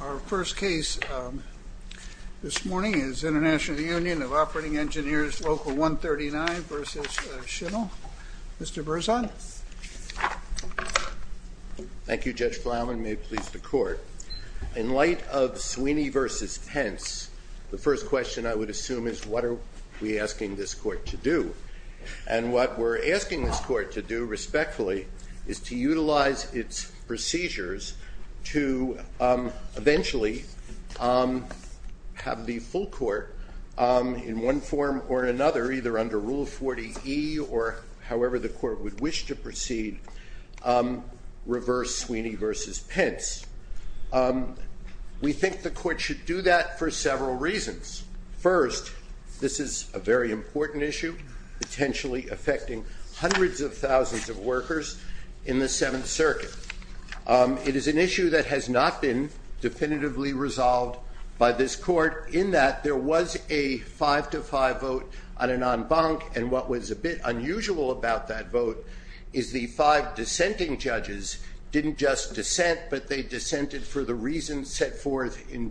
Our first case this morning is International Union of Operating Engineers Local 139 v. Schimel. Mr. Berzon. Thank you, Judge Flanagan. May it please the court. In light of Sweeney v. Pence, the first question I would assume is what are we asking this court to do? And what we're asking this court to do, respectfully, is to utilize its procedures to eventually have the full court, in one form or another, either under Rule 40e or however the court would wish to proceed, reverse Sweeney v. Pence. We think the court should do that for several reasons. First, this is a very important issue, potentially affecting hundreds of thousands of workers in the Seventh Circuit. It is an issue that has not been definitively resolved by this court in that there was a 5-5 vote on an en banc, and what was a bit unusual about that vote is the five dissenting judges didn't just dissent, but they dissented for the reasons set forth in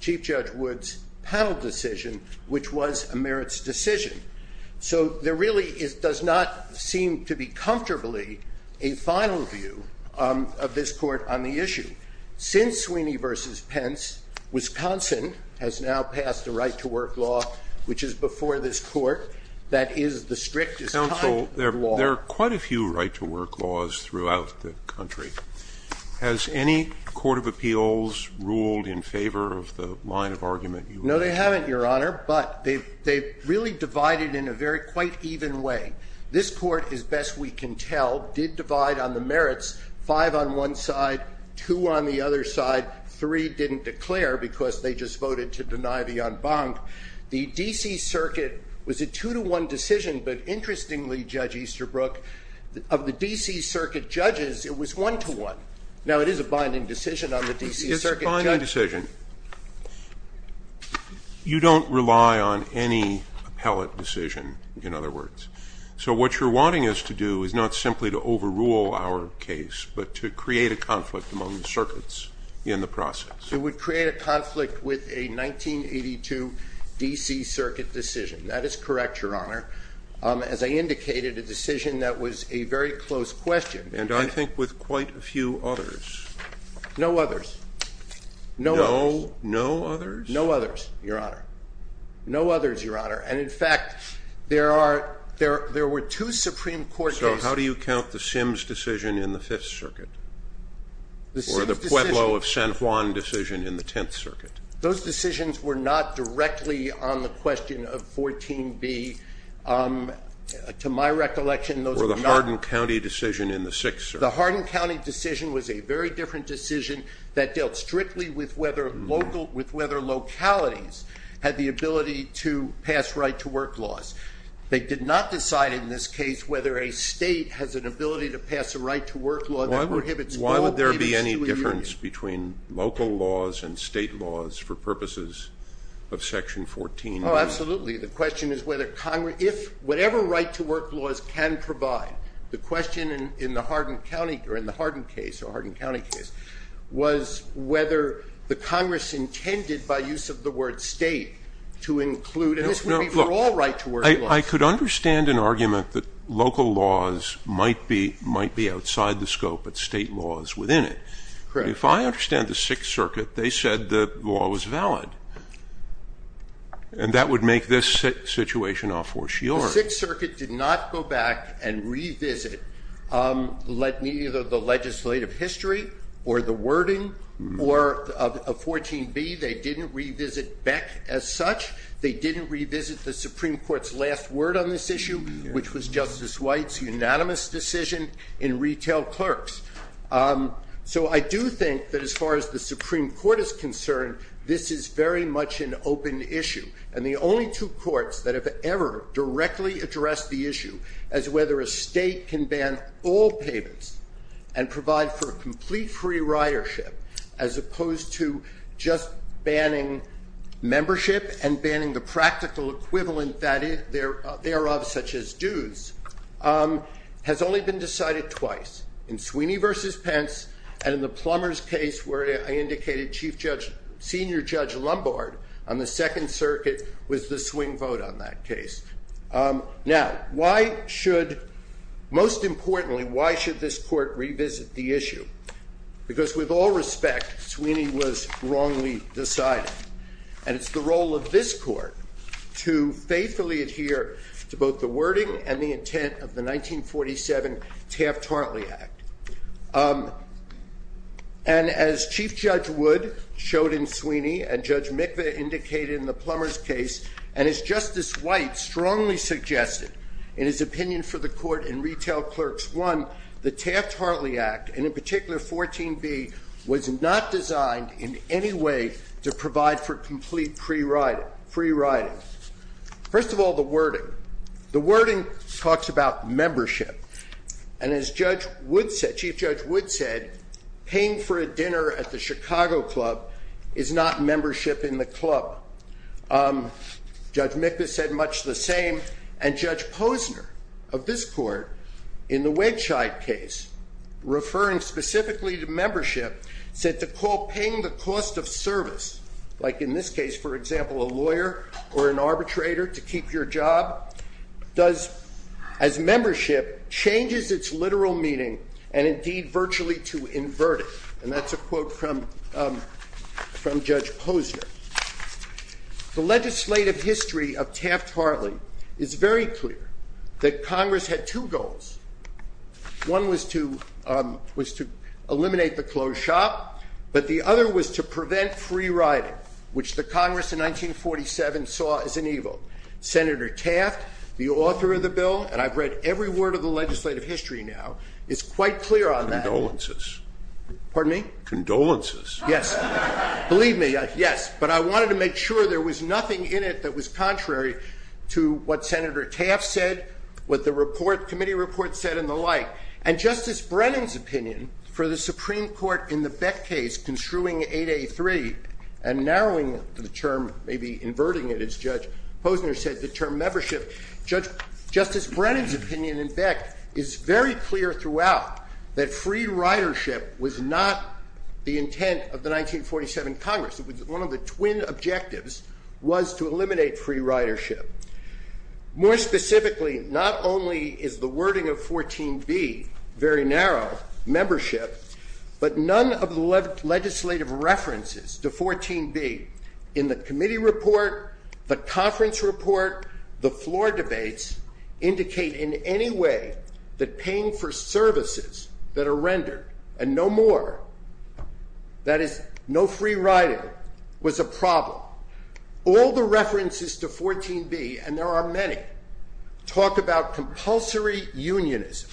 Chief Judge Wood's panel decision, which was a merits decision. So there really does not seem to be comfortably a final view of this court on the issue. Since Sweeney v. Pence, Wisconsin has now passed a right-to-work law, which is before this court, that is the strictest kind of law. Counsel, there are quite a few right-to-work laws throughout the country. Has any court of appeals ruled in favor of the line of argument you mentioned? No, they haven't, Your Honor, but they've really divided in a very quite even way. This court, as best we can tell, did divide on the merits, five on one side, two on the other side, three didn't declare because they just voted to deny the en banc. The D.C. Circuit was a two-to-one decision, but interestingly, Judge Easterbrook, of the D.C. Circuit judges, it was one-to-one. Now, it is a binding decision on the D.C. Circuit. It's a binding decision. You don't rely on any appellate decision, in other words. So what you're wanting us to do is not simply to overrule our case, but to create a conflict among the circuits in the process. It would create a conflict with a 1982 D.C. Circuit decision. That is correct, Your Honor, as I indicated, a decision that was a very close question. And I think with quite a few others. No others. No others? No others, Your Honor. No others, Your Honor. And, in fact, there were two Supreme Court cases. So how do you count the Sims decision in the Fifth Circuit or the Pueblo of San Juan decision in the Tenth Circuit? Those decisions were not directly on the question of 14B. To my recollection, those were not. Or the Hardin County decision in the Sixth Circuit. The Hardin County decision was a very different decision that dealt strictly with whether localities had the ability to pass right-to-work laws. They did not decide, in this case, whether a state has an ability to pass a right-to-work law that prohibits school- Why would there be any difference between local laws and state laws for purposes of Section 14B? Oh, absolutely. The question is whether Congress, if whatever right-to-work laws can provide, the question in the Hardin County, or in the Hardin case, or Hardin County case, was whether the Congress intended by use of the word state to include, and this would be for all right-to-work laws. I could understand an argument that local laws might be outside the scope, but state laws within it. If I understand the Sixth Circuit, they said the law was valid. And that would make this situation a fortiori. The Sixth Circuit did not go back and revisit the legislative history or the wording of 14B. They didn't revisit Beck as such. They didn't revisit the Supreme Court's last word on this issue, which was Justice White's unanimous decision in retail clerks. So I do think that as far as the Supreme Court is concerned, this is very much an open issue. And the only two courts that have ever directly addressed the issue as whether a state can ban all payments and provide for complete free ridership, as opposed to just banning membership and banning the practical equivalent thereof, such as dues, has only been decided twice. In Sweeney v. Pence and in the Plumbers case, where I indicated Senior Judge Lombard on the Second Circuit, was the swing vote on that case. Now, most importantly, why should this court revisit the issue? Because with all respect, Sweeney was wrongly decided. And it's the role of this court to faithfully adhere to both the wording and the intent of the 1947 Taft-Hartley Act. And as Chief Judge Wood showed in Sweeney and Judge Mikva indicated in the Plumbers case, and as Justice White strongly suggested in his opinion for the court in Retail Clerks I, the Taft-Hartley Act, and in particular 14b, was not designed in any way to provide for complete free riding. First of all, the wording. The wording talks about membership. And as Chief Judge Wood said, paying for a dinner at the Chicago Club is not membership in the club. Judge Mikva said much the same. And Judge Posner of this court, in the Wedgeside case, referring specifically to membership, said to call paying the cost of service, like in this case, for example, a lawyer or an arbitrator to keep your job, does, as membership, changes its literal meaning and indeed virtually to invert it. And that's a quote from Judge Posner. The legislative history of Taft-Hartley is very clear that Congress had two goals. One was to eliminate the closed shop, but the other was to prevent free riding, which the Congress in 1947 saw as an evil. Senator Taft, the author of the bill, and I've read every word of the legislative history now, is quite clear on that. Condolences. Pardon me? Condolences. Yes. Believe me, yes. But I wanted to make sure there was nothing in it that was contrary to what Senator Taft said, what the report, committee report said, and the like. And Justice Brennan's opinion for the Supreme Court in the Beck case construing 8A3 and narrowing the term, maybe inverting it, as Judge Posner said, the term membership. Justice Brennan's opinion in Beck is very clear throughout that free ridership was not the intent of the 1947 Congress. One of the twin objectives was to eliminate free ridership. More specifically, not only is the wording of 14B very narrow, membership, but none of the legislative references to 14B in the committee report, the conference report, the floor debates, indicate in any way that paying for services that are rendered and no more, that is, no free riding, was a problem. All the references to 14B, and there are many, talk about compulsory unionism.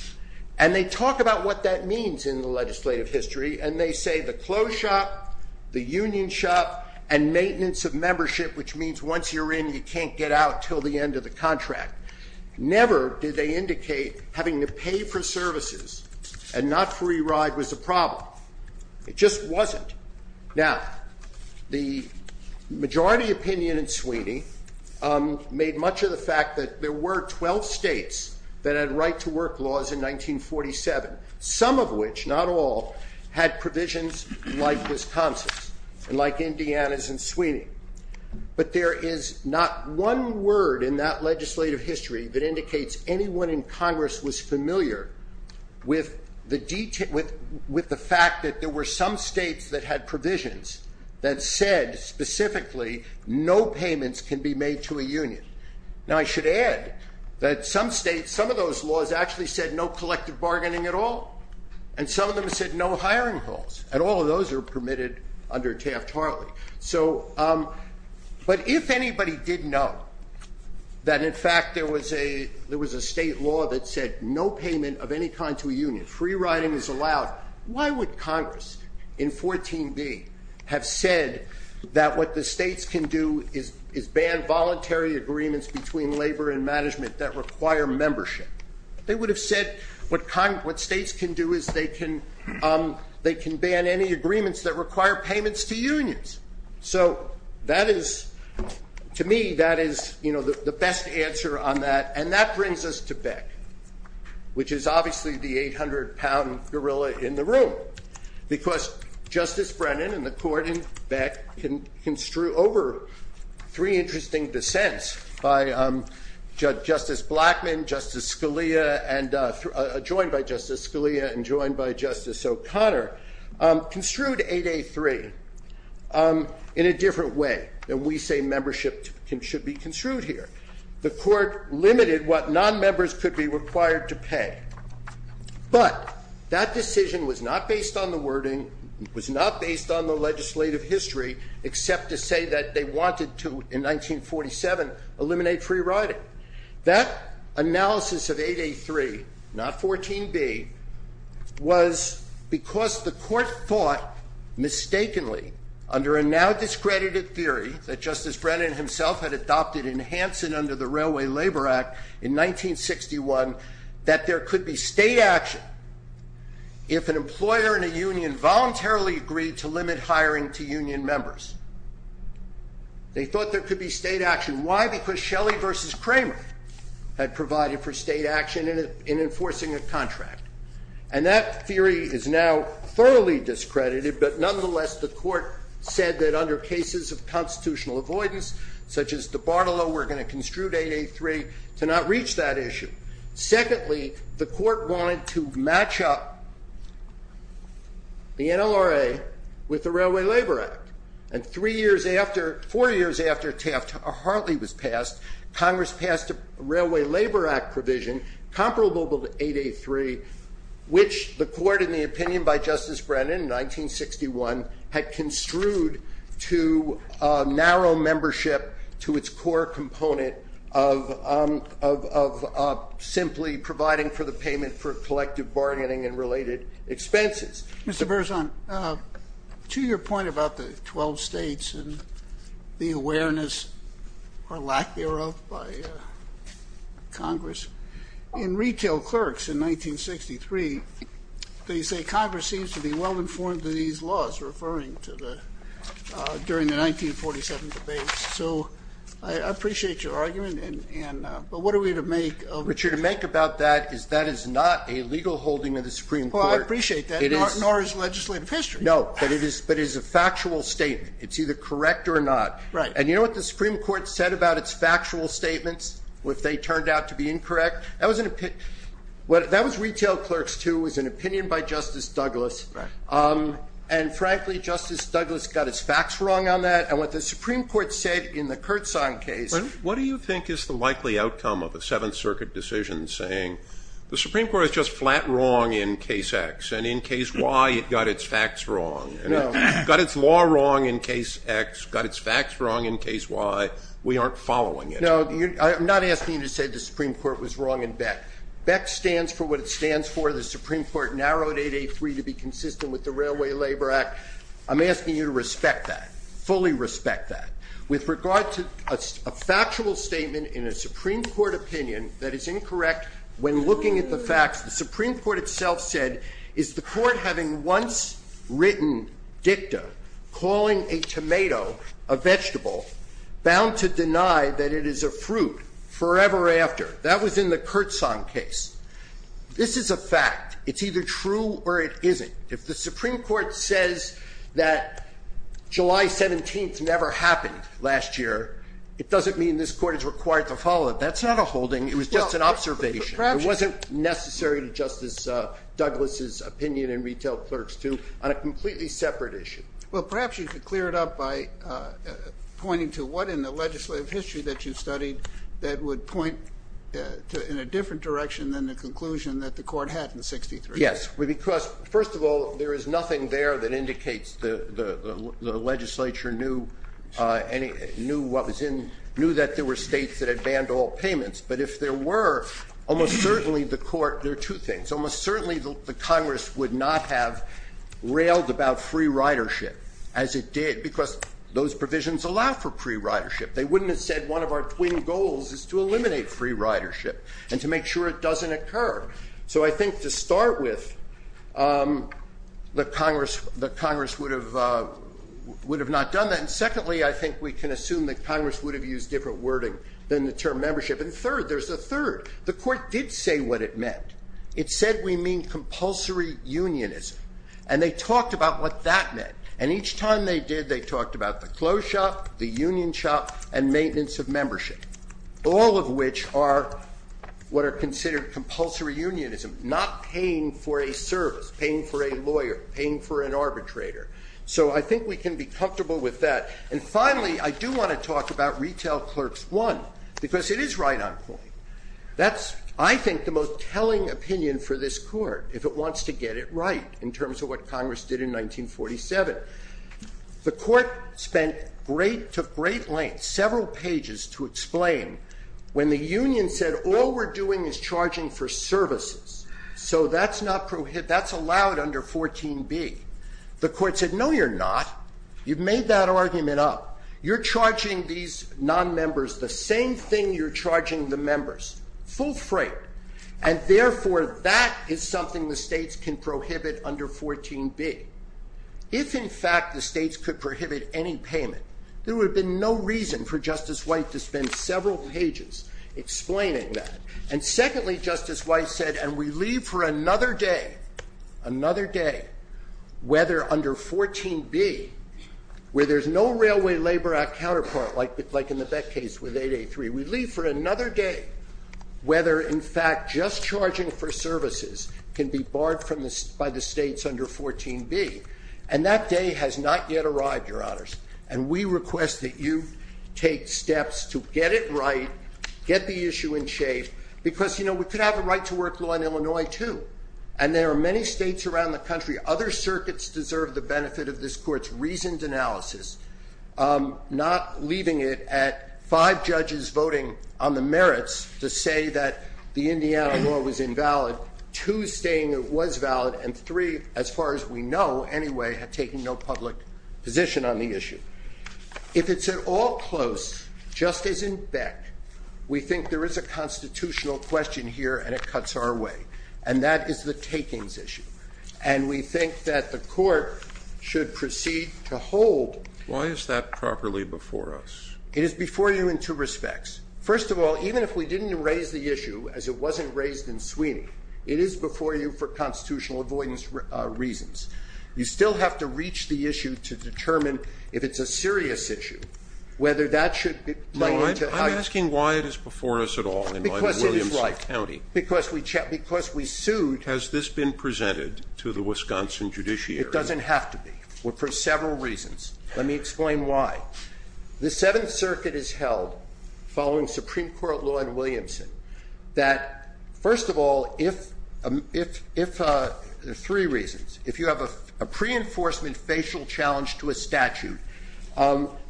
And they talk about what that means in the legislative history, and they say the clothes shop, the union shop, and maintenance of membership, which means once you're in, you can't get out until the end of the contract. Never did they indicate having to pay for services and not free ride was a problem. It just wasn't. Now, the majority opinion in Sweeney made much of the fact that there were 12 states that had right-to-work laws in 1947, some of which, not all, had provisions like Wisconsin's and like Indiana's and Sweeney. But there is not one word in that legislative history that indicates anyone in Congress was familiar with the fact that there were some states that had provisions that said specifically no payments can be made to a union. Now, I should add that some states, some of those laws actually said no collective bargaining at all, and some of them said no hiring calls, and all of those are permitted under Taft-Harley. But if anybody did know that, in fact, there was a state law that said no payment of any kind to a union, free riding is allowed, why would Congress in 14B have said that what the states can do is ban voluntary agreements between labor and management that require membership? They would have said what states can do is they can ban any agreements that require payments to unions. So that is, to me, that is the best answer on that, and that brings us to Beck, which is obviously the 800-pound gorilla in the room, because Justice Brennan and the Court in Beck construed over three interesting dissents by Justice Blackmun, Justice Scalia, and joined by Justice Scalia and joined by Justice O'Connor, construed 8A3 in a different way than we say membership should be construed here. The Court limited what nonmembers could be required to pay, but that decision was not based on the wording, was not based on the legislative history, except to say that they wanted to, in 1947, eliminate free riding. That analysis of 8A3, not 14B, was because the Court thought, mistakenly, under a now-discredited theory that Justice Brennan himself had adopted in Hansen under the Railway Labor Act in 1961, that there could be state action if an employer and a union voluntarily agreed to limit hiring to union members. They thought there could be state action. Why? Because Shelley v. Kramer had provided for state action in enforcing a contract, and that theory is now thoroughly discredited, but nonetheless, the Court said that under cases of constitutional avoidance, such as the Bartolo, we're going to construe 8A3 to not reach that issue. Secondly, the Court wanted to match up the NLRA with the Railway Labor Act, and three years after, four years after Taft-Hartley was passed, Congress passed a Railway Labor Act provision comparable to 8A3, which the Court, in the opinion by Justice Brennan in 1961, had construed to narrow membership to its core component of simply providing for the payment for collective bargaining and related expenses. Mr. Berzon, to your point about the 12 States and the awareness or lack thereof by Congress, in Retail Clerks in 1963, they say Congress seems to be well-informed in these laws referring to the 1947 debates. So I appreciate your argument, but what are we to make of it? What you're to make about that is that is not a legal holding of the Supreme Court. Well, I appreciate that, nor is legislative history. No, but it is a factual statement. It's either correct or not. Right. And you know what the Supreme Court said about its factual statements, if they turned out to be incorrect? That was an opinion. That was Retail Clerks, too. It was an opinion by Justice Douglas. Right. And, frankly, Justice Douglas got his facts wrong on that, and what the Supreme Court said in the Kurtzahn case. What do you think is the likely outcome of a Seventh Circuit decision saying the Supreme Court is just flat wrong in Case X, and in Case Y it got its facts wrong? No. It got its law wrong in Case X, got its facts wrong in Case Y. We aren't following it. No, I'm not asking you to say the Supreme Court was wrong in Beck. Beck stands for what it stands for. The Supreme Court narrowed 883 to be consistent with the Railway Labor Act. I'm asking you to respect that, fully respect that. With regard to a factual statement in a Supreme Court opinion that is incorrect when looking at the facts, the Supreme Court itself said, is the Court having once written dicta calling a tomato a vegetable bound to deny that it is a fruit forever after? That was in the Kurtzahn case. This is a fact. It's either true or it isn't. If the Supreme Court says that July 17th never happened last year, it doesn't mean this Court is required to follow it. That's not a holding. It was just an observation. It wasn't necessary to Justice Douglas' opinion and retail clerks, too, on a completely separate issue. Well, perhaps you could clear it up by pointing to what in the legislative history that you studied that would point in a different direction than the conclusion that the Court had in 63. Yes, because, first of all, there is nothing there that indicates the legislature knew what was in ñ knew that there were states that had banned all payments. But if there were, almost certainly the Court ñ there are two things. Almost certainly the Congress would not have railed about free ridership as it did because those provisions allow for free ridership. They wouldn't have said one of our twin goals is to eliminate free ridership and to make sure it doesn't occur. So I think to start with, the Congress would have not done that. And secondly, I think we can assume that Congress would have used different wording than the term membership. And third, there's a third. The Court did say what it meant. It said we mean compulsory unionism. And they talked about what that meant. And each time they did, they talked about the clothes shop, the union shop, and maintenance of membership, all of which are what are considered compulsory unionism, not paying for a service, paying for a lawyer, paying for an arbitrator. So I think we can be comfortable with that. And finally, I do want to talk about retail clerks, one, because it is right on point. That's, I think, the most telling opinion for this Court if it wants to get it right in terms of what Congress did in 1947. The Court spent great, took great length, several pages to explain when the union said all we're doing is charging for services. So that's not prohibited. That's allowed under 14B. The Court said, no, you're not. You've made that argument up. You're charging these nonmembers the same thing you're charging the members, full freight. And therefore, that is something the states can prohibit under 14B. If, in fact, the states could prohibit any payment, there would have been no reason for Justice White to spend several pages explaining that. And secondly, Justice White said, and we leave for another day, another day, whether under 14B, where there's no Railway Labor Act counterpart, like in the Beck case with 883. We leave for another day whether, in fact, just charging for services can be barred by the states under 14B. And that day has not yet arrived, Your Honors. And we request that you take steps to get it right, get the issue in shape, because we could have a right-to-work law in Illinois too. And there are many states around the country, other circuits deserve the benefit of this Court's reasoned analysis, not leaving it at five judges voting on the merits to say that the Indiana law was invalid, two saying it was valid, and three, as far as we know anyway, have taken no public position on the issue. If it's at all close, Justice in Beck, we think there is a constitutional question here and it cuts our way, and that is the takings issue. And we think that the Court should proceed to hold. Why is that properly before us? It is before you in two respects. First of all, even if we didn't raise the issue, as it wasn't raised in Sweeney, it is before you for constitutional avoidance reasons. You still have to reach the issue to determine if it's a serious issue, whether that should be pointed to how you should. No, I'm asking why it is before us at all in Williamson County. Because it is right. Because we sued. And if it's not in the statute, has this been presented to the Wisconsin judiciary? It doesn't have to be for several reasons. Let me explain why. The Seventh Circuit has held, following Supreme Court law in Williamson, that first of all, if the three reasons, if you have a pre-enforcement facial challenge to a statute,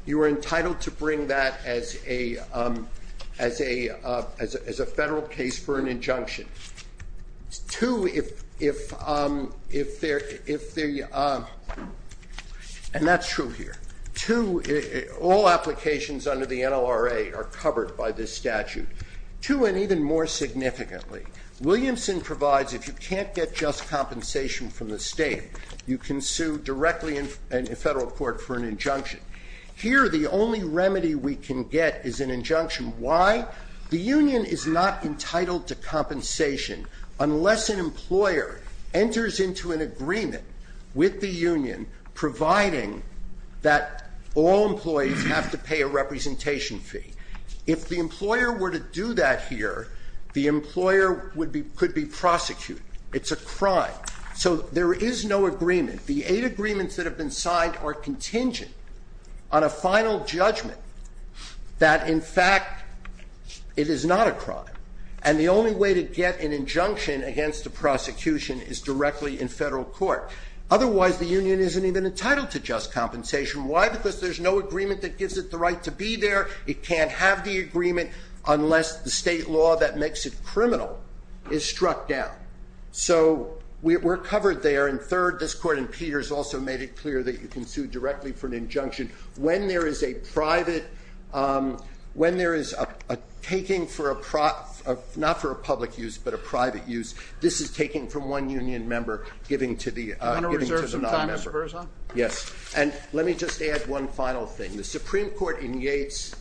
you are entitled to bring that as a federal case for an injunction. And that's true here. Two, all applications under the NLRA are covered by this statute. Two, and even more significantly, Williamson provides if you can't get just compensation from the state, you can sue directly in federal court for an injunction. Here, the only remedy we can get is an injunction. Why? The union is not entitled to compensation unless an employer enters into an agreement with the union providing that all employees have to pay a representation fee. If the employer were to do that here, the employer could be prosecuted. It's a crime. So there is no agreement. The eight agreements that have been signed are contingent on a final judgment that, in fact, it is not a crime. And the only way to get an injunction against a prosecution is directly in federal court. Otherwise, the union isn't even entitled to just compensation. Why? Because there's no agreement that gives it the right to be there. It can't have the agreement unless the state law that makes it criminal is struck down. So we're covered there. And third, this court in Peters also made it clear that you can sue directly for an injunction. When there is a private – when there is a taking for a – not for a public use but a private use, this is taking from one union member giving to the non-member. Do you want to reserve some time, Mr. Berza? Yes. And let me just add one final thing. The Supreme Court in Yates,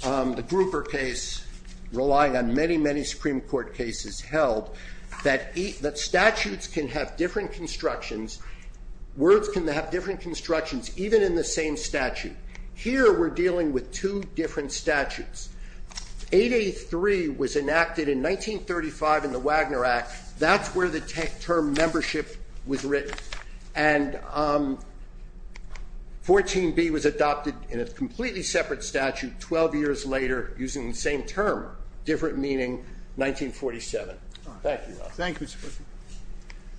the Grouper case, relying on many, many Supreme Court cases held, that statutes can have different constructions, words can have different constructions even in the same statute. Here we're dealing with two different statutes. 8A3 was enacted in 1935 in the Wagner Act. That's where the term membership was written. And 14B was adopted in a completely separate statute 12 years later using the same term, different meaning, 1947. Thank you. Thank you, Mr. Berza.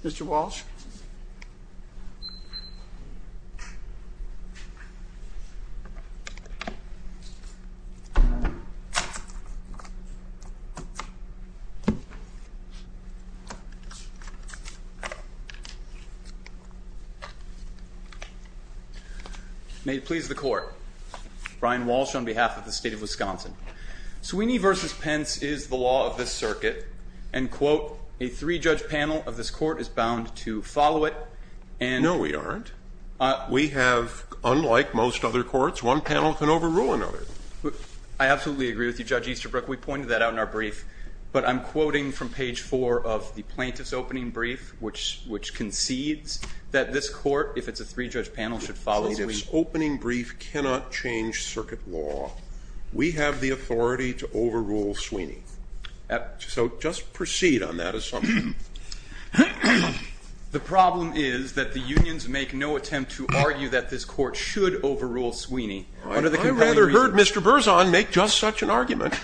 Mr. Walsh. May it please the Court, Brian Walsh on behalf of the State of Wisconsin. Sweeney v. Pence is the law of this circuit. And, quote, a three-judge panel of this court is bound to follow it and – No, we aren't. We have, unlike most other courts, one panel can overrule another. I absolutely agree with you, Judge Easterbrook. We pointed that out in our brief. But I'm quoting from page 4 of the plaintiff's opening brief, which concedes that this court, if it's a three-judge panel, should follow the – This opening brief cannot change circuit law. We have the authority to overrule Sweeney. So just proceed on that assumption. The problem is that the unions make no attempt to argue that this court should overrule Sweeney. I'd rather heard Mr. Berzon make just such an argument.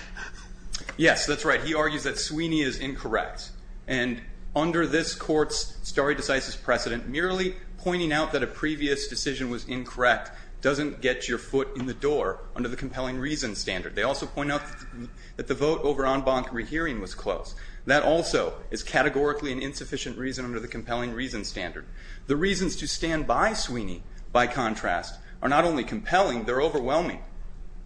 Yes, that's right. He argues that Sweeney is incorrect. And under this court's stare decisis precedent, merely pointing out that a previous decision was incorrect doesn't get your foot in the door under the compelling reason standard. They also point out that the vote over en banc rehearing was close. That also is categorically an insufficient reason under the compelling reason standard. The reasons to stand by Sweeney, by contrast, are not only compelling, they're overwhelming.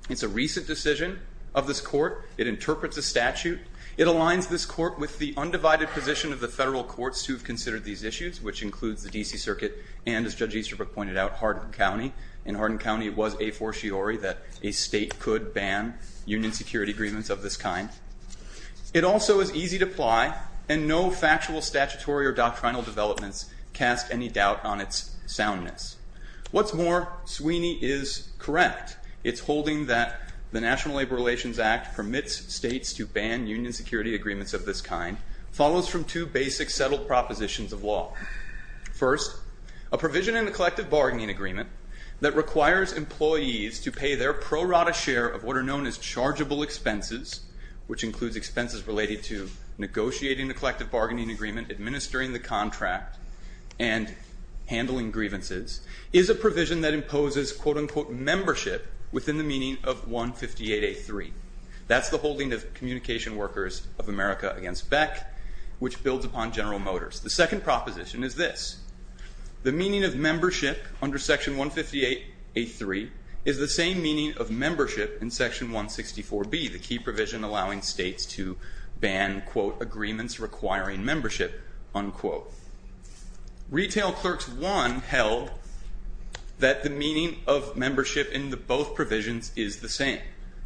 It's a recent decision of this court. It interprets a statute. It aligns this court with the undivided position of the federal courts who have considered these issues, which includes the D.C. Circuit and, as Judge Easterbrook pointed out, Hardin County. In Hardin County, it was a fortiori that a state could ban union security agreements of this kind. It also is easy to apply and no factual statutory or doctrinal developments cast any doubt on its soundness. What's more, Sweeney is correct. It's holding that the National Labor Relations Act permits states to ban union security agreements of this kind follows from two basic settled propositions of law. First, a provision in the collective bargaining agreement that requires employees to pay their pro rata share of what are known as chargeable expenses, which includes expenses related to negotiating the collective bargaining agreement, administering the contract, and handling grievances, is a provision that imposes, quote, unquote, membership within the meaning of 158A.3. That's the holding of communication workers of America against Beck, which builds upon General Motors. The second proposition is this. The meaning of membership under Section 158A.3 is the same meaning of membership in Section 164B, the key provision allowing states to ban, quote, agreements requiring membership, unquote. Retail Clerks I held that the meaning of membership in both provisions is the same.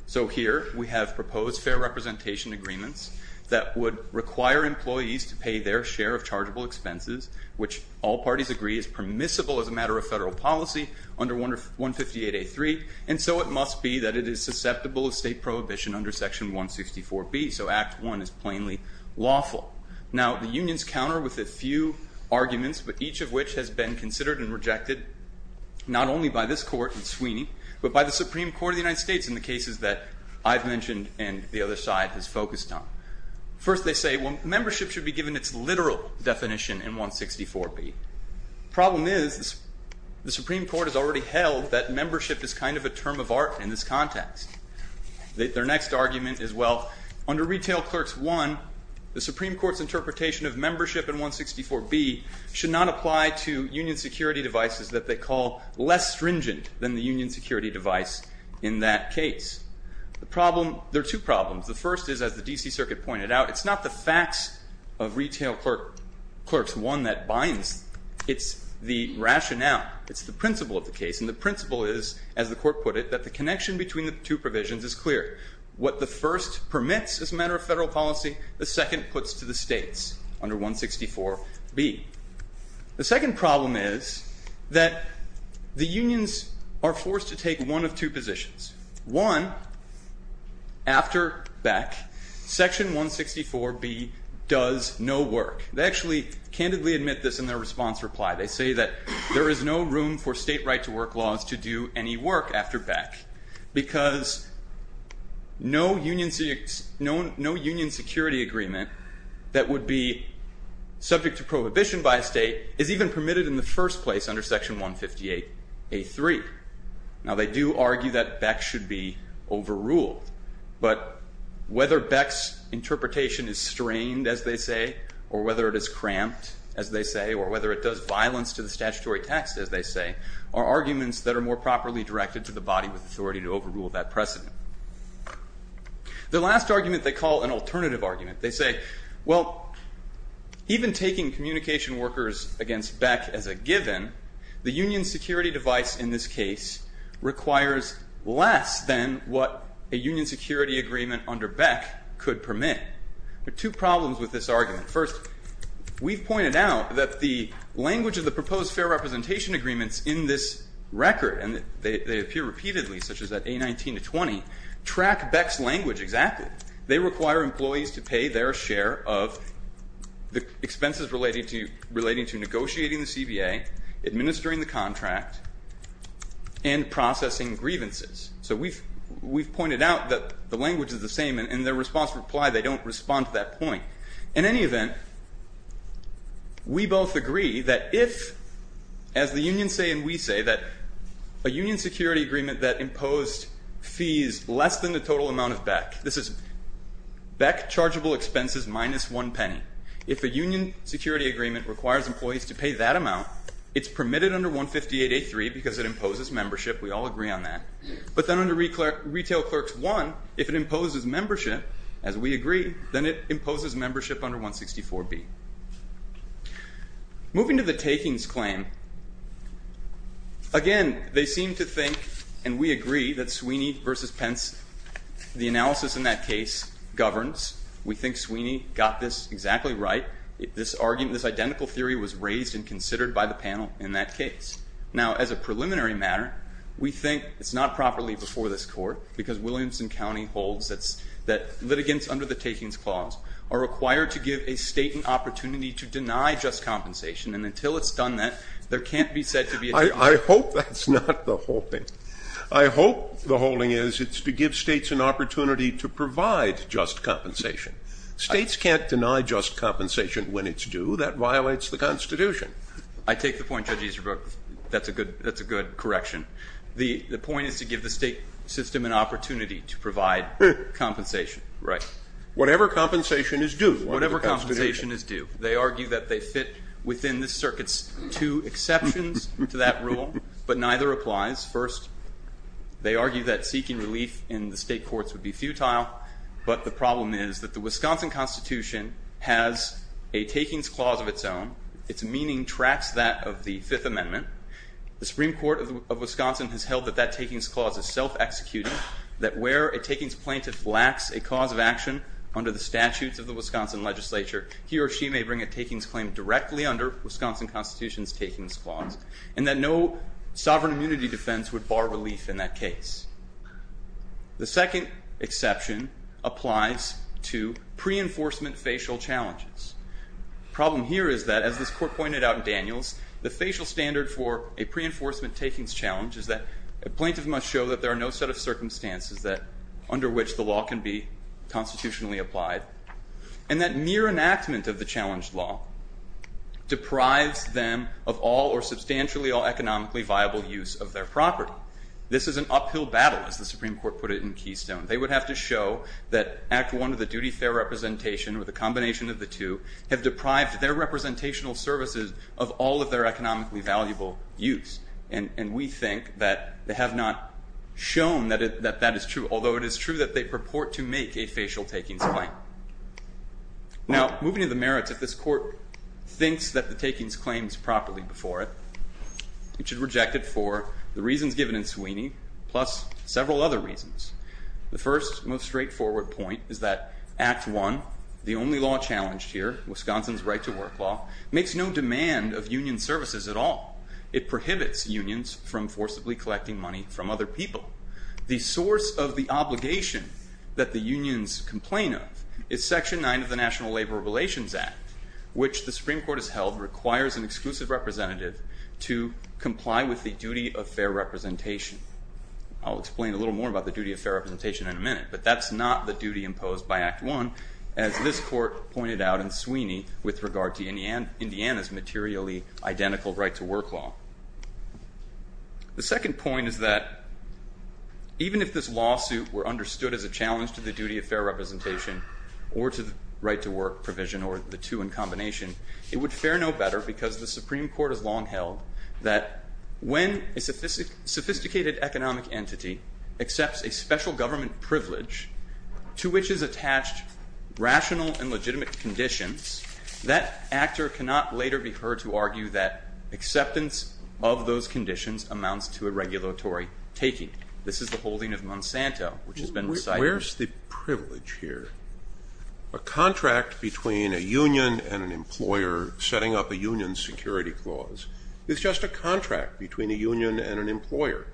So here we have proposed fair representation agreements that would require employees to pay their share of chargeable expenses, which all parties agree is permissible as a matter of federal policy under 158A.3, and so it must be that it is susceptible of state prohibition under Section 164B, so Act I is plainly lawful. Now, the unions counter with a few arguments, but each of which has been considered and rejected not only by this court in Sweeney, but by the Supreme Court of the United States in the cases that I've mentioned and the other side has focused on. First, they say, well, membership should be given its literal definition in 164B. Problem is, the Supreme Court has already held that membership is kind of a term of art in this context. Their next argument is, well, under Retail Clerks I, the Supreme Court's interpretation of membership in 164B should not apply to union security devices that they call less stringent than the union security device in that case. The problem, there are two problems. The first is, as the D.C. Circuit pointed out, it's not the facts of Retail Clerks I that binds. It's the rationale. It's the principle of the case, and the principle is, as the court put it, that the connection between the two provisions is clear. What the first permits as a matter of federal policy, the second puts to the states under 164B. The second problem is that the unions are forced to take one of two positions. One, after Beck, Section 164B does no work. They actually candidly admit this in their response reply. They say that there is no room for state right-to-work laws to do any work after Beck because no union security agreement that would be subject to prohibition by a state is even permitted in the first place under Section 158A.3. Now, they do argue that Beck should be overruled, but whether Beck's interpretation is strained, as they say, or whether it is cramped, as they say, or whether it does violence to the statutory text, as they say, are arguments that are more properly directed to the body with authority to overrule that precedent. The last argument they call an alternative argument. They say, well, even taking communication workers against Beck as a given, the union security device in this case requires less than what a union security agreement under Beck could permit. There are two problems with this argument. First, we've pointed out that the language of the proposed fair representation agreements in this record, and they appear repeatedly, such as at A19-20, track Beck's language exactly. They require employees to pay their share of the expenses relating to negotiating the CBA, administering the contract, and processing grievances. So we've pointed out that the language is the same. And in their response reply, they don't respond to that point. In any event, we both agree that if, as the union say and we say, that a union security agreement that imposed fees less than the total amount of Beck, this is Beck chargeable expenses minus one penny, if a union security agreement requires employees to pay that amount, it's permitted under 158-83 because it imposes membership. We all agree on that. But then under Retail Clerks 1, if it imposes membership, as we agree, then it imposes membership under 164-B. Moving to the takings claim, again, they seem to think, and we agree, that Sweeney versus Pence, the analysis in that case governs. We think Sweeney got this exactly right. This argument, this identical theory was raised and considered by the panel in that case. Now, as a preliminary matter, we think it's not properly before this Court, because Williamson County holds that litigants under the takings clause are required to give a State an opportunity to deny just compensation. And until it's done that, there can't be said to be a jury. I hope that's not the holding. I hope the holding is it's to give States an opportunity to provide just compensation. States can't deny just compensation when it's due. That violates the Constitution. I take the point, Judge Easterbrook. That's a good correction. The point is to give the State system an opportunity to provide compensation. Right. Whatever compensation is due under the Constitution. Whatever compensation is due. They argue that they fit within this Circuit's two exceptions to that rule, but neither applies. First, they argue that seeking relief in the State courts would be futile, but the problem is that the Wisconsin Constitution has a takings clause of its own. Its meaning tracks that of the Fifth Amendment. The Supreme Court of Wisconsin has held that that takings clause is self-executing, that where a takings plaintiff lacks a cause of action under the statutes of the Wisconsin legislature, he or she may bring a takings claim directly under Wisconsin Constitution's takings clause, and that no sovereign immunity defense would bar relief in that case. The second exception applies to pre-enforcement facial challenges. The problem here is that, as this Court pointed out in Daniels, the facial standard for a pre-enforcement takings challenge is that a plaintiff must show that there are no set of circumstances under which the law can be constitutionally applied, and that mere enactment of the challenged law deprives them of all or substantially all economically viable use of their property. This is an uphill battle, as the Supreme Court put it in Keystone. They would have to show that Act I of the duty fair representation with a combination of the two have deprived their representational services of all of their economically valuable use, and we think that they have not shown that that is true, although it is true that they purport to make a facial takings claim. Now, moving to the merits, if this Court thinks that the takings claim is properly before it, it should reject it for the reasons given in Sweeney, plus several other reasons. The first, most straightforward point is that Act I, the only law challenged here, Wisconsin's right-to-work law, makes no demand of union services at all. It prohibits unions from forcibly collecting money from other people. The source of the obligation that the unions complain of is Section 9 of the National Labor Relations Act, which the Supreme Court has held requires an exclusive representative to comply with the duty of fair representation. I'll explain a little more about the duty of fair representation in a minute, but that's not the duty imposed by Act I, as this Court pointed out in Sweeney with regard to Indiana's materially identical right-to-work law. The second point is that even if this lawsuit were understood as a challenge to the duty of fair representation or to the right-to-work provision or the two in combination, it would fare no better because the Supreme Court has long held that when a sophisticated economic entity accepts a special government privilege to which is attached rational and legitimate conditions, that actor cannot later be heard to argue that acceptance of those conditions amounts to a regulatory taking. This is the holding of Monsanto, which has been recited. Where's the privilege here? A contract between a union and an employer setting up a union security clause is just a contract between a union and an employer.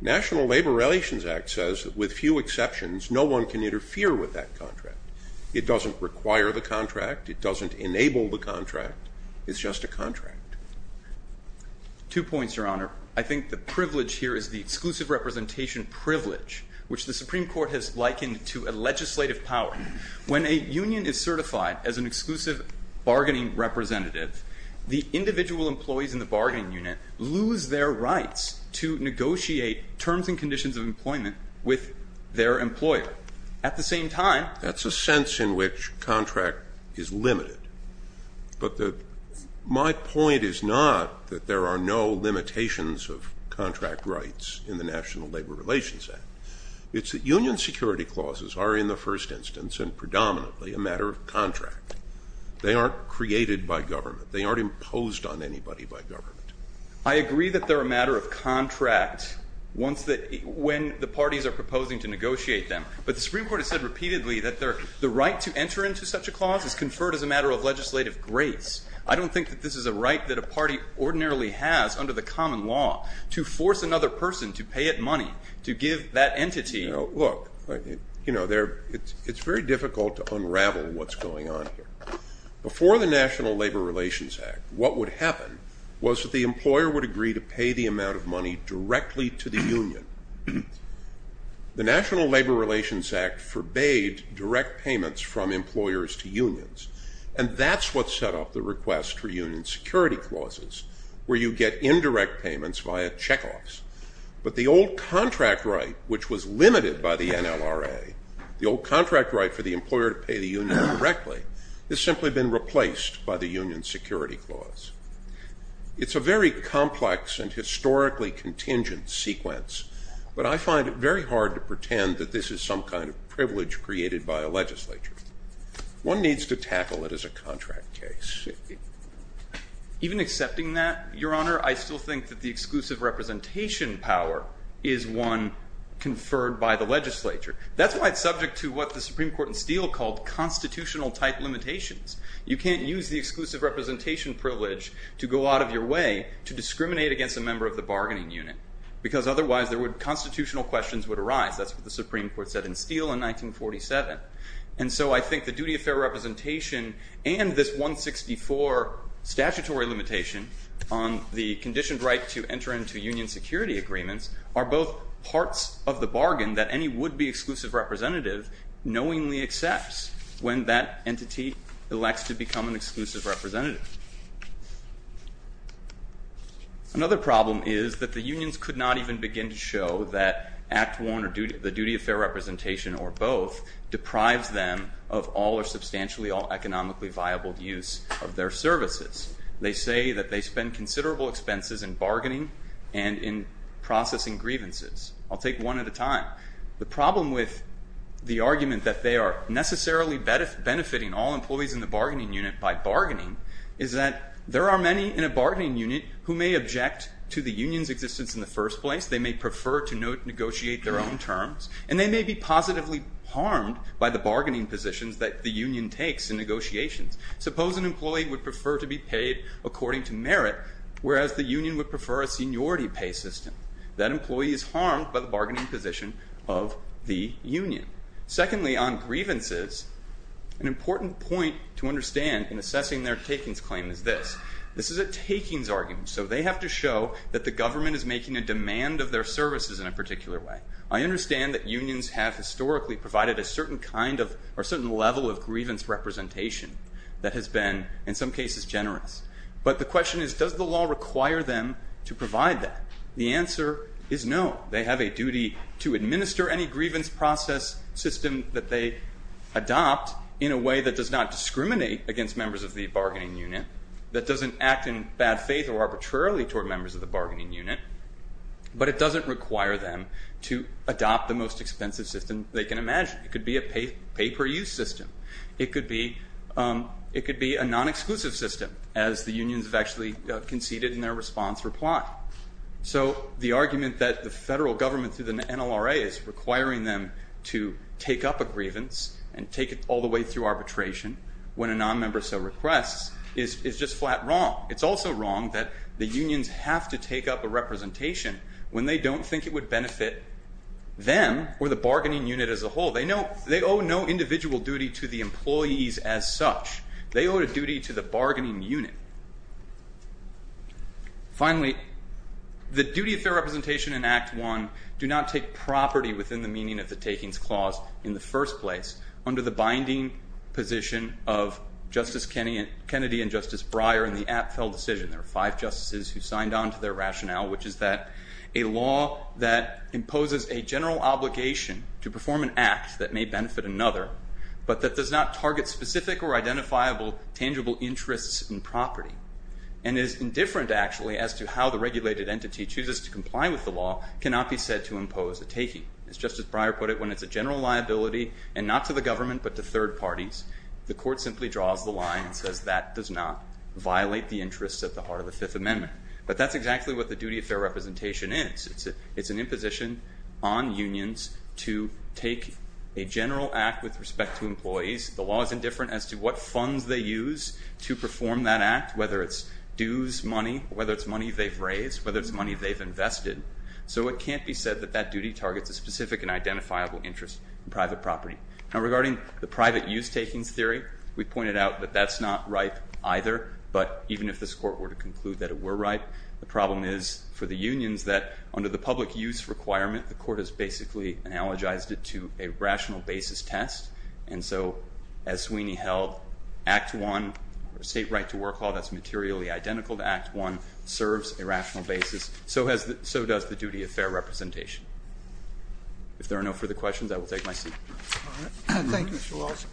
National Labor Relations Act says that with few exceptions, no one can interfere with that contract. It doesn't require the contract. It doesn't enable the contract. It's just a contract. Two points, Your Honor. I think the privilege here is the exclusive representation privilege, which the Supreme Court has likened to a legislative power. When a union is certified as an exclusive bargaining representative, the individual employees in the bargaining unit lose their rights to negotiate terms and conditions of employment with their employer. At the same time... That's a sense in which contract is limited. But my point is not that there are no limitations of contract rights in the National Labor Relations Act. It's that union security clauses are in the first instance and predominantly a matter of contract. They aren't created by government. They aren't imposed on anybody by government. I agree that they're a matter of contract when the parties are proposing to negotiate them. But the Supreme Court has said repeatedly that the right to enter into such a clause is conferred as a matter of legislative grace. I don't think that this is a right that a party ordinarily has under the common law to force another person to pay it money, to give that entity... Look, you know, it's very difficult to unravel what's going on here. Before the National Labor Relations Act, what would happen was that the employer would agree to pay the amount of money directly to the union. The National Labor Relations Act forbade direct payments from employers to unions, and that's what set off the request for union security clauses, where you get indirect payments via check-offs. But the old contract right, which was limited by the NLRA, the old contract right for the employer to pay the union directly, has simply been replaced by the union security clause. It's a very complex and historically contingent sequence, but I find it very hard to pretend that this is some kind of privilege created by a legislature. One needs to tackle it as a contract case. Even accepting that, Your Honor, I still think that the exclusive representation power is one conferred by the legislature. That's why it's subject to what the Supreme Court in Steele called constitutional-type limitations. You can't use the exclusive representation privilege to go out of your way to discriminate against a member of the bargaining unit, because otherwise constitutional questions would arise. That's what the Supreme Court said in Steele in 1947. And so I think the duty of fair representation and this 164 statutory limitation on the conditioned right to enter into union security agreements are both parts of the bargain that any would-be exclusive representative knowingly accepts when that entity elects to become an exclusive representative. Another problem is that the unions could not even begin to show that Act I or the duty of fair representation or both deprives them of all or substantially all economically viable use of their services. They say that they spend considerable expenses in bargaining and in processing grievances. I'll take one at a time. The problem with the argument that they are necessarily benefiting all employees in the bargaining unit by bargaining is that there are many in a bargaining unit who may object to the union's existence in the first place. They may prefer to negotiate their own terms, and they may be positively harmed by the bargaining positions that the union takes in negotiations. Suppose an employee would prefer to be paid according to merit, whereas the union would prefer a seniority pay system. That employee is harmed by the bargaining position of the union. Secondly, on grievances, an important point to understand in assessing their takings claim is this. This is a takings argument, so they have to show that the government is making a demand of their services in a particular way. I understand that unions have historically provided a certain level of grievance representation that has been, in some cases, generous. But the question is, does the law require them to provide that? The answer is no. They have a duty to administer any grievance process system that they adopt in a way that does not discriminate against members of the bargaining unit, that doesn't act in bad faith or arbitrarily toward members of the bargaining unit, but it doesn't require them to adopt the most expensive system they can imagine. It could be a pay-per-use system. It could be a non-exclusive system, as the unions have actually conceded in their response reply. So the argument that the federal government through the NLRA is requiring them to take up a grievance and take it all the way through arbitration when a non-member so requests is just flat wrong. It's also wrong that the unions have to take up a representation when they don't think it would benefit them or the bargaining unit as a whole. They owe no individual duty to the employees as such. They owe a duty to the bargaining unit. Finally, the duty of fair representation in Act I do not take property within the meaning of the takings clause in the first place under the binding position of Justice Kennedy and Justice Breyer in the Apfel decision. which is that a law that imposes a general obligation to perform an act that may benefit another but that does not target specific or identifiable tangible interests in property and is indifferent actually as to how the regulated entity chooses to comply with the law cannot be said to impose a taking. As Justice Breyer put it, when it's a general liability and not to the government but to third parties, the court simply draws the line and says that does not violate the interests at the heart of the Fifth Amendment. But that's exactly what the duty of fair representation is. It's an imposition on unions to take a general act with respect to employees. The law is indifferent as to what funds they use to perform that act, whether it's dues money, whether it's money they've raised, whether it's money they've invested. So it can't be said that that duty targets a specific and identifiable interest in private property. Now regarding the private use takings theory, we pointed out that that's not right either, but even if this court were to conclude that it were right, the problem is for the unions that under the public use requirement, the court has basically analogized it to a rational basis test. And so as Sweeney held, Act I, State Right to Work Law, that's materially identical to Act I, serves a rational basis. So does the duty of fair representation. If there are no further questions, I will take my seat. Thank you, Mr. Walsh.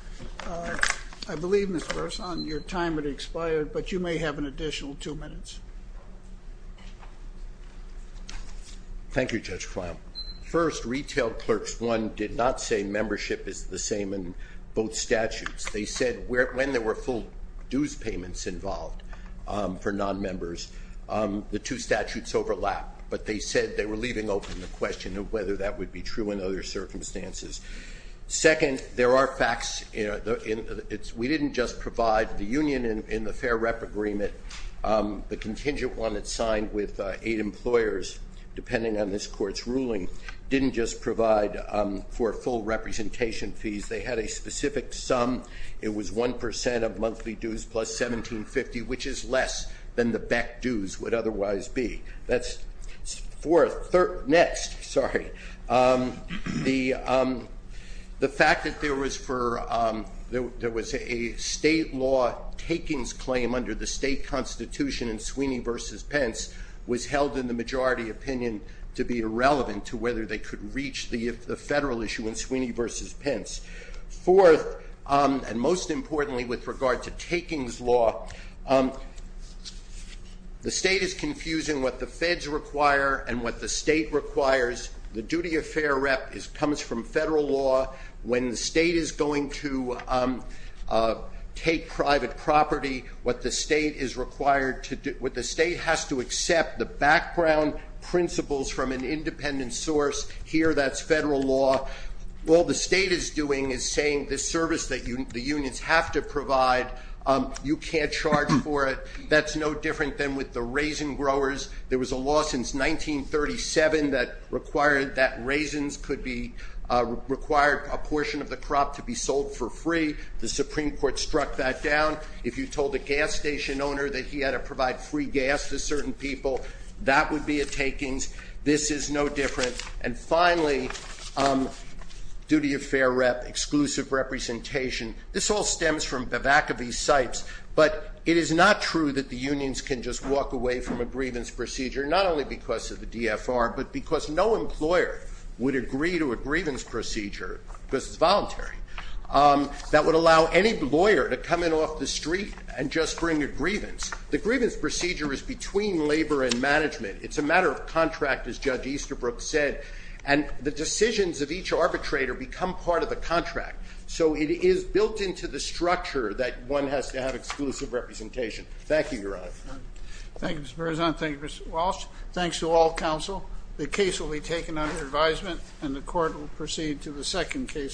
I believe, Mr. Burson, your time has expired, but you may have an additional two minutes. Thank you, Judge Clown. First, retail clerks, one, did not say membership is the same in both statutes. They said when there were full dues payments involved for nonmembers, the two statutes overlapped. But they said they were leaving open the question of whether that would be true in other circumstances. Second, there are facts. We didn't just provide the union in the fair rep agreement. The contingent one that's signed with eight employers, depending on this court's ruling, didn't just provide for full representation fees. They had a specific sum. It was 1% of monthly dues plus $17.50, which is less than the back dues would otherwise be. That's fourth. Next. Sorry. The fact that there was a state law takings claim under the state constitution in Sweeney v. Pence was held in the majority opinion to be irrelevant to whether they could reach the federal issue in Sweeney v. Pence. Fourth, and most importantly with regard to takings law, the state is confusing what the feds require and what the state requires. The duty of fair rep comes from federal law. When the state is going to take private property, what the state has to accept, the background principles from an independent source, here that's federal law. All the state is doing is saying this service that the unions have to provide, you can't charge for it. That's no different than with the raisin growers. There was a law since 1937 that required that raisins could be required a portion of the crop to be sold for free. The Supreme Court struck that down. If you told a gas station owner that he had to provide free gas to certain people, that would be a takings. This is no different. And finally, duty of fair rep, exclusive representation. This all stems from the back of these sites. But it is not true that the unions can just walk away from a grievance procedure, not only because of the DFR, but because no employer would agree to a grievance procedure, because it's voluntary, that would allow any lawyer to come in off the street and just bring a grievance. The grievance procedure is between labor and management. It's a matter of contract, as Judge Easterbrook said. And the decisions of each arbitrator become part of the contract. So it is built into the structure that one has to have exclusive representation. Thank you, Your Honor. Thank you, Mr. Berzon. Thank you, Mr. Walsh. Thanks to all counsel. The case will be taken under advisement, and the court will proceed to the second case.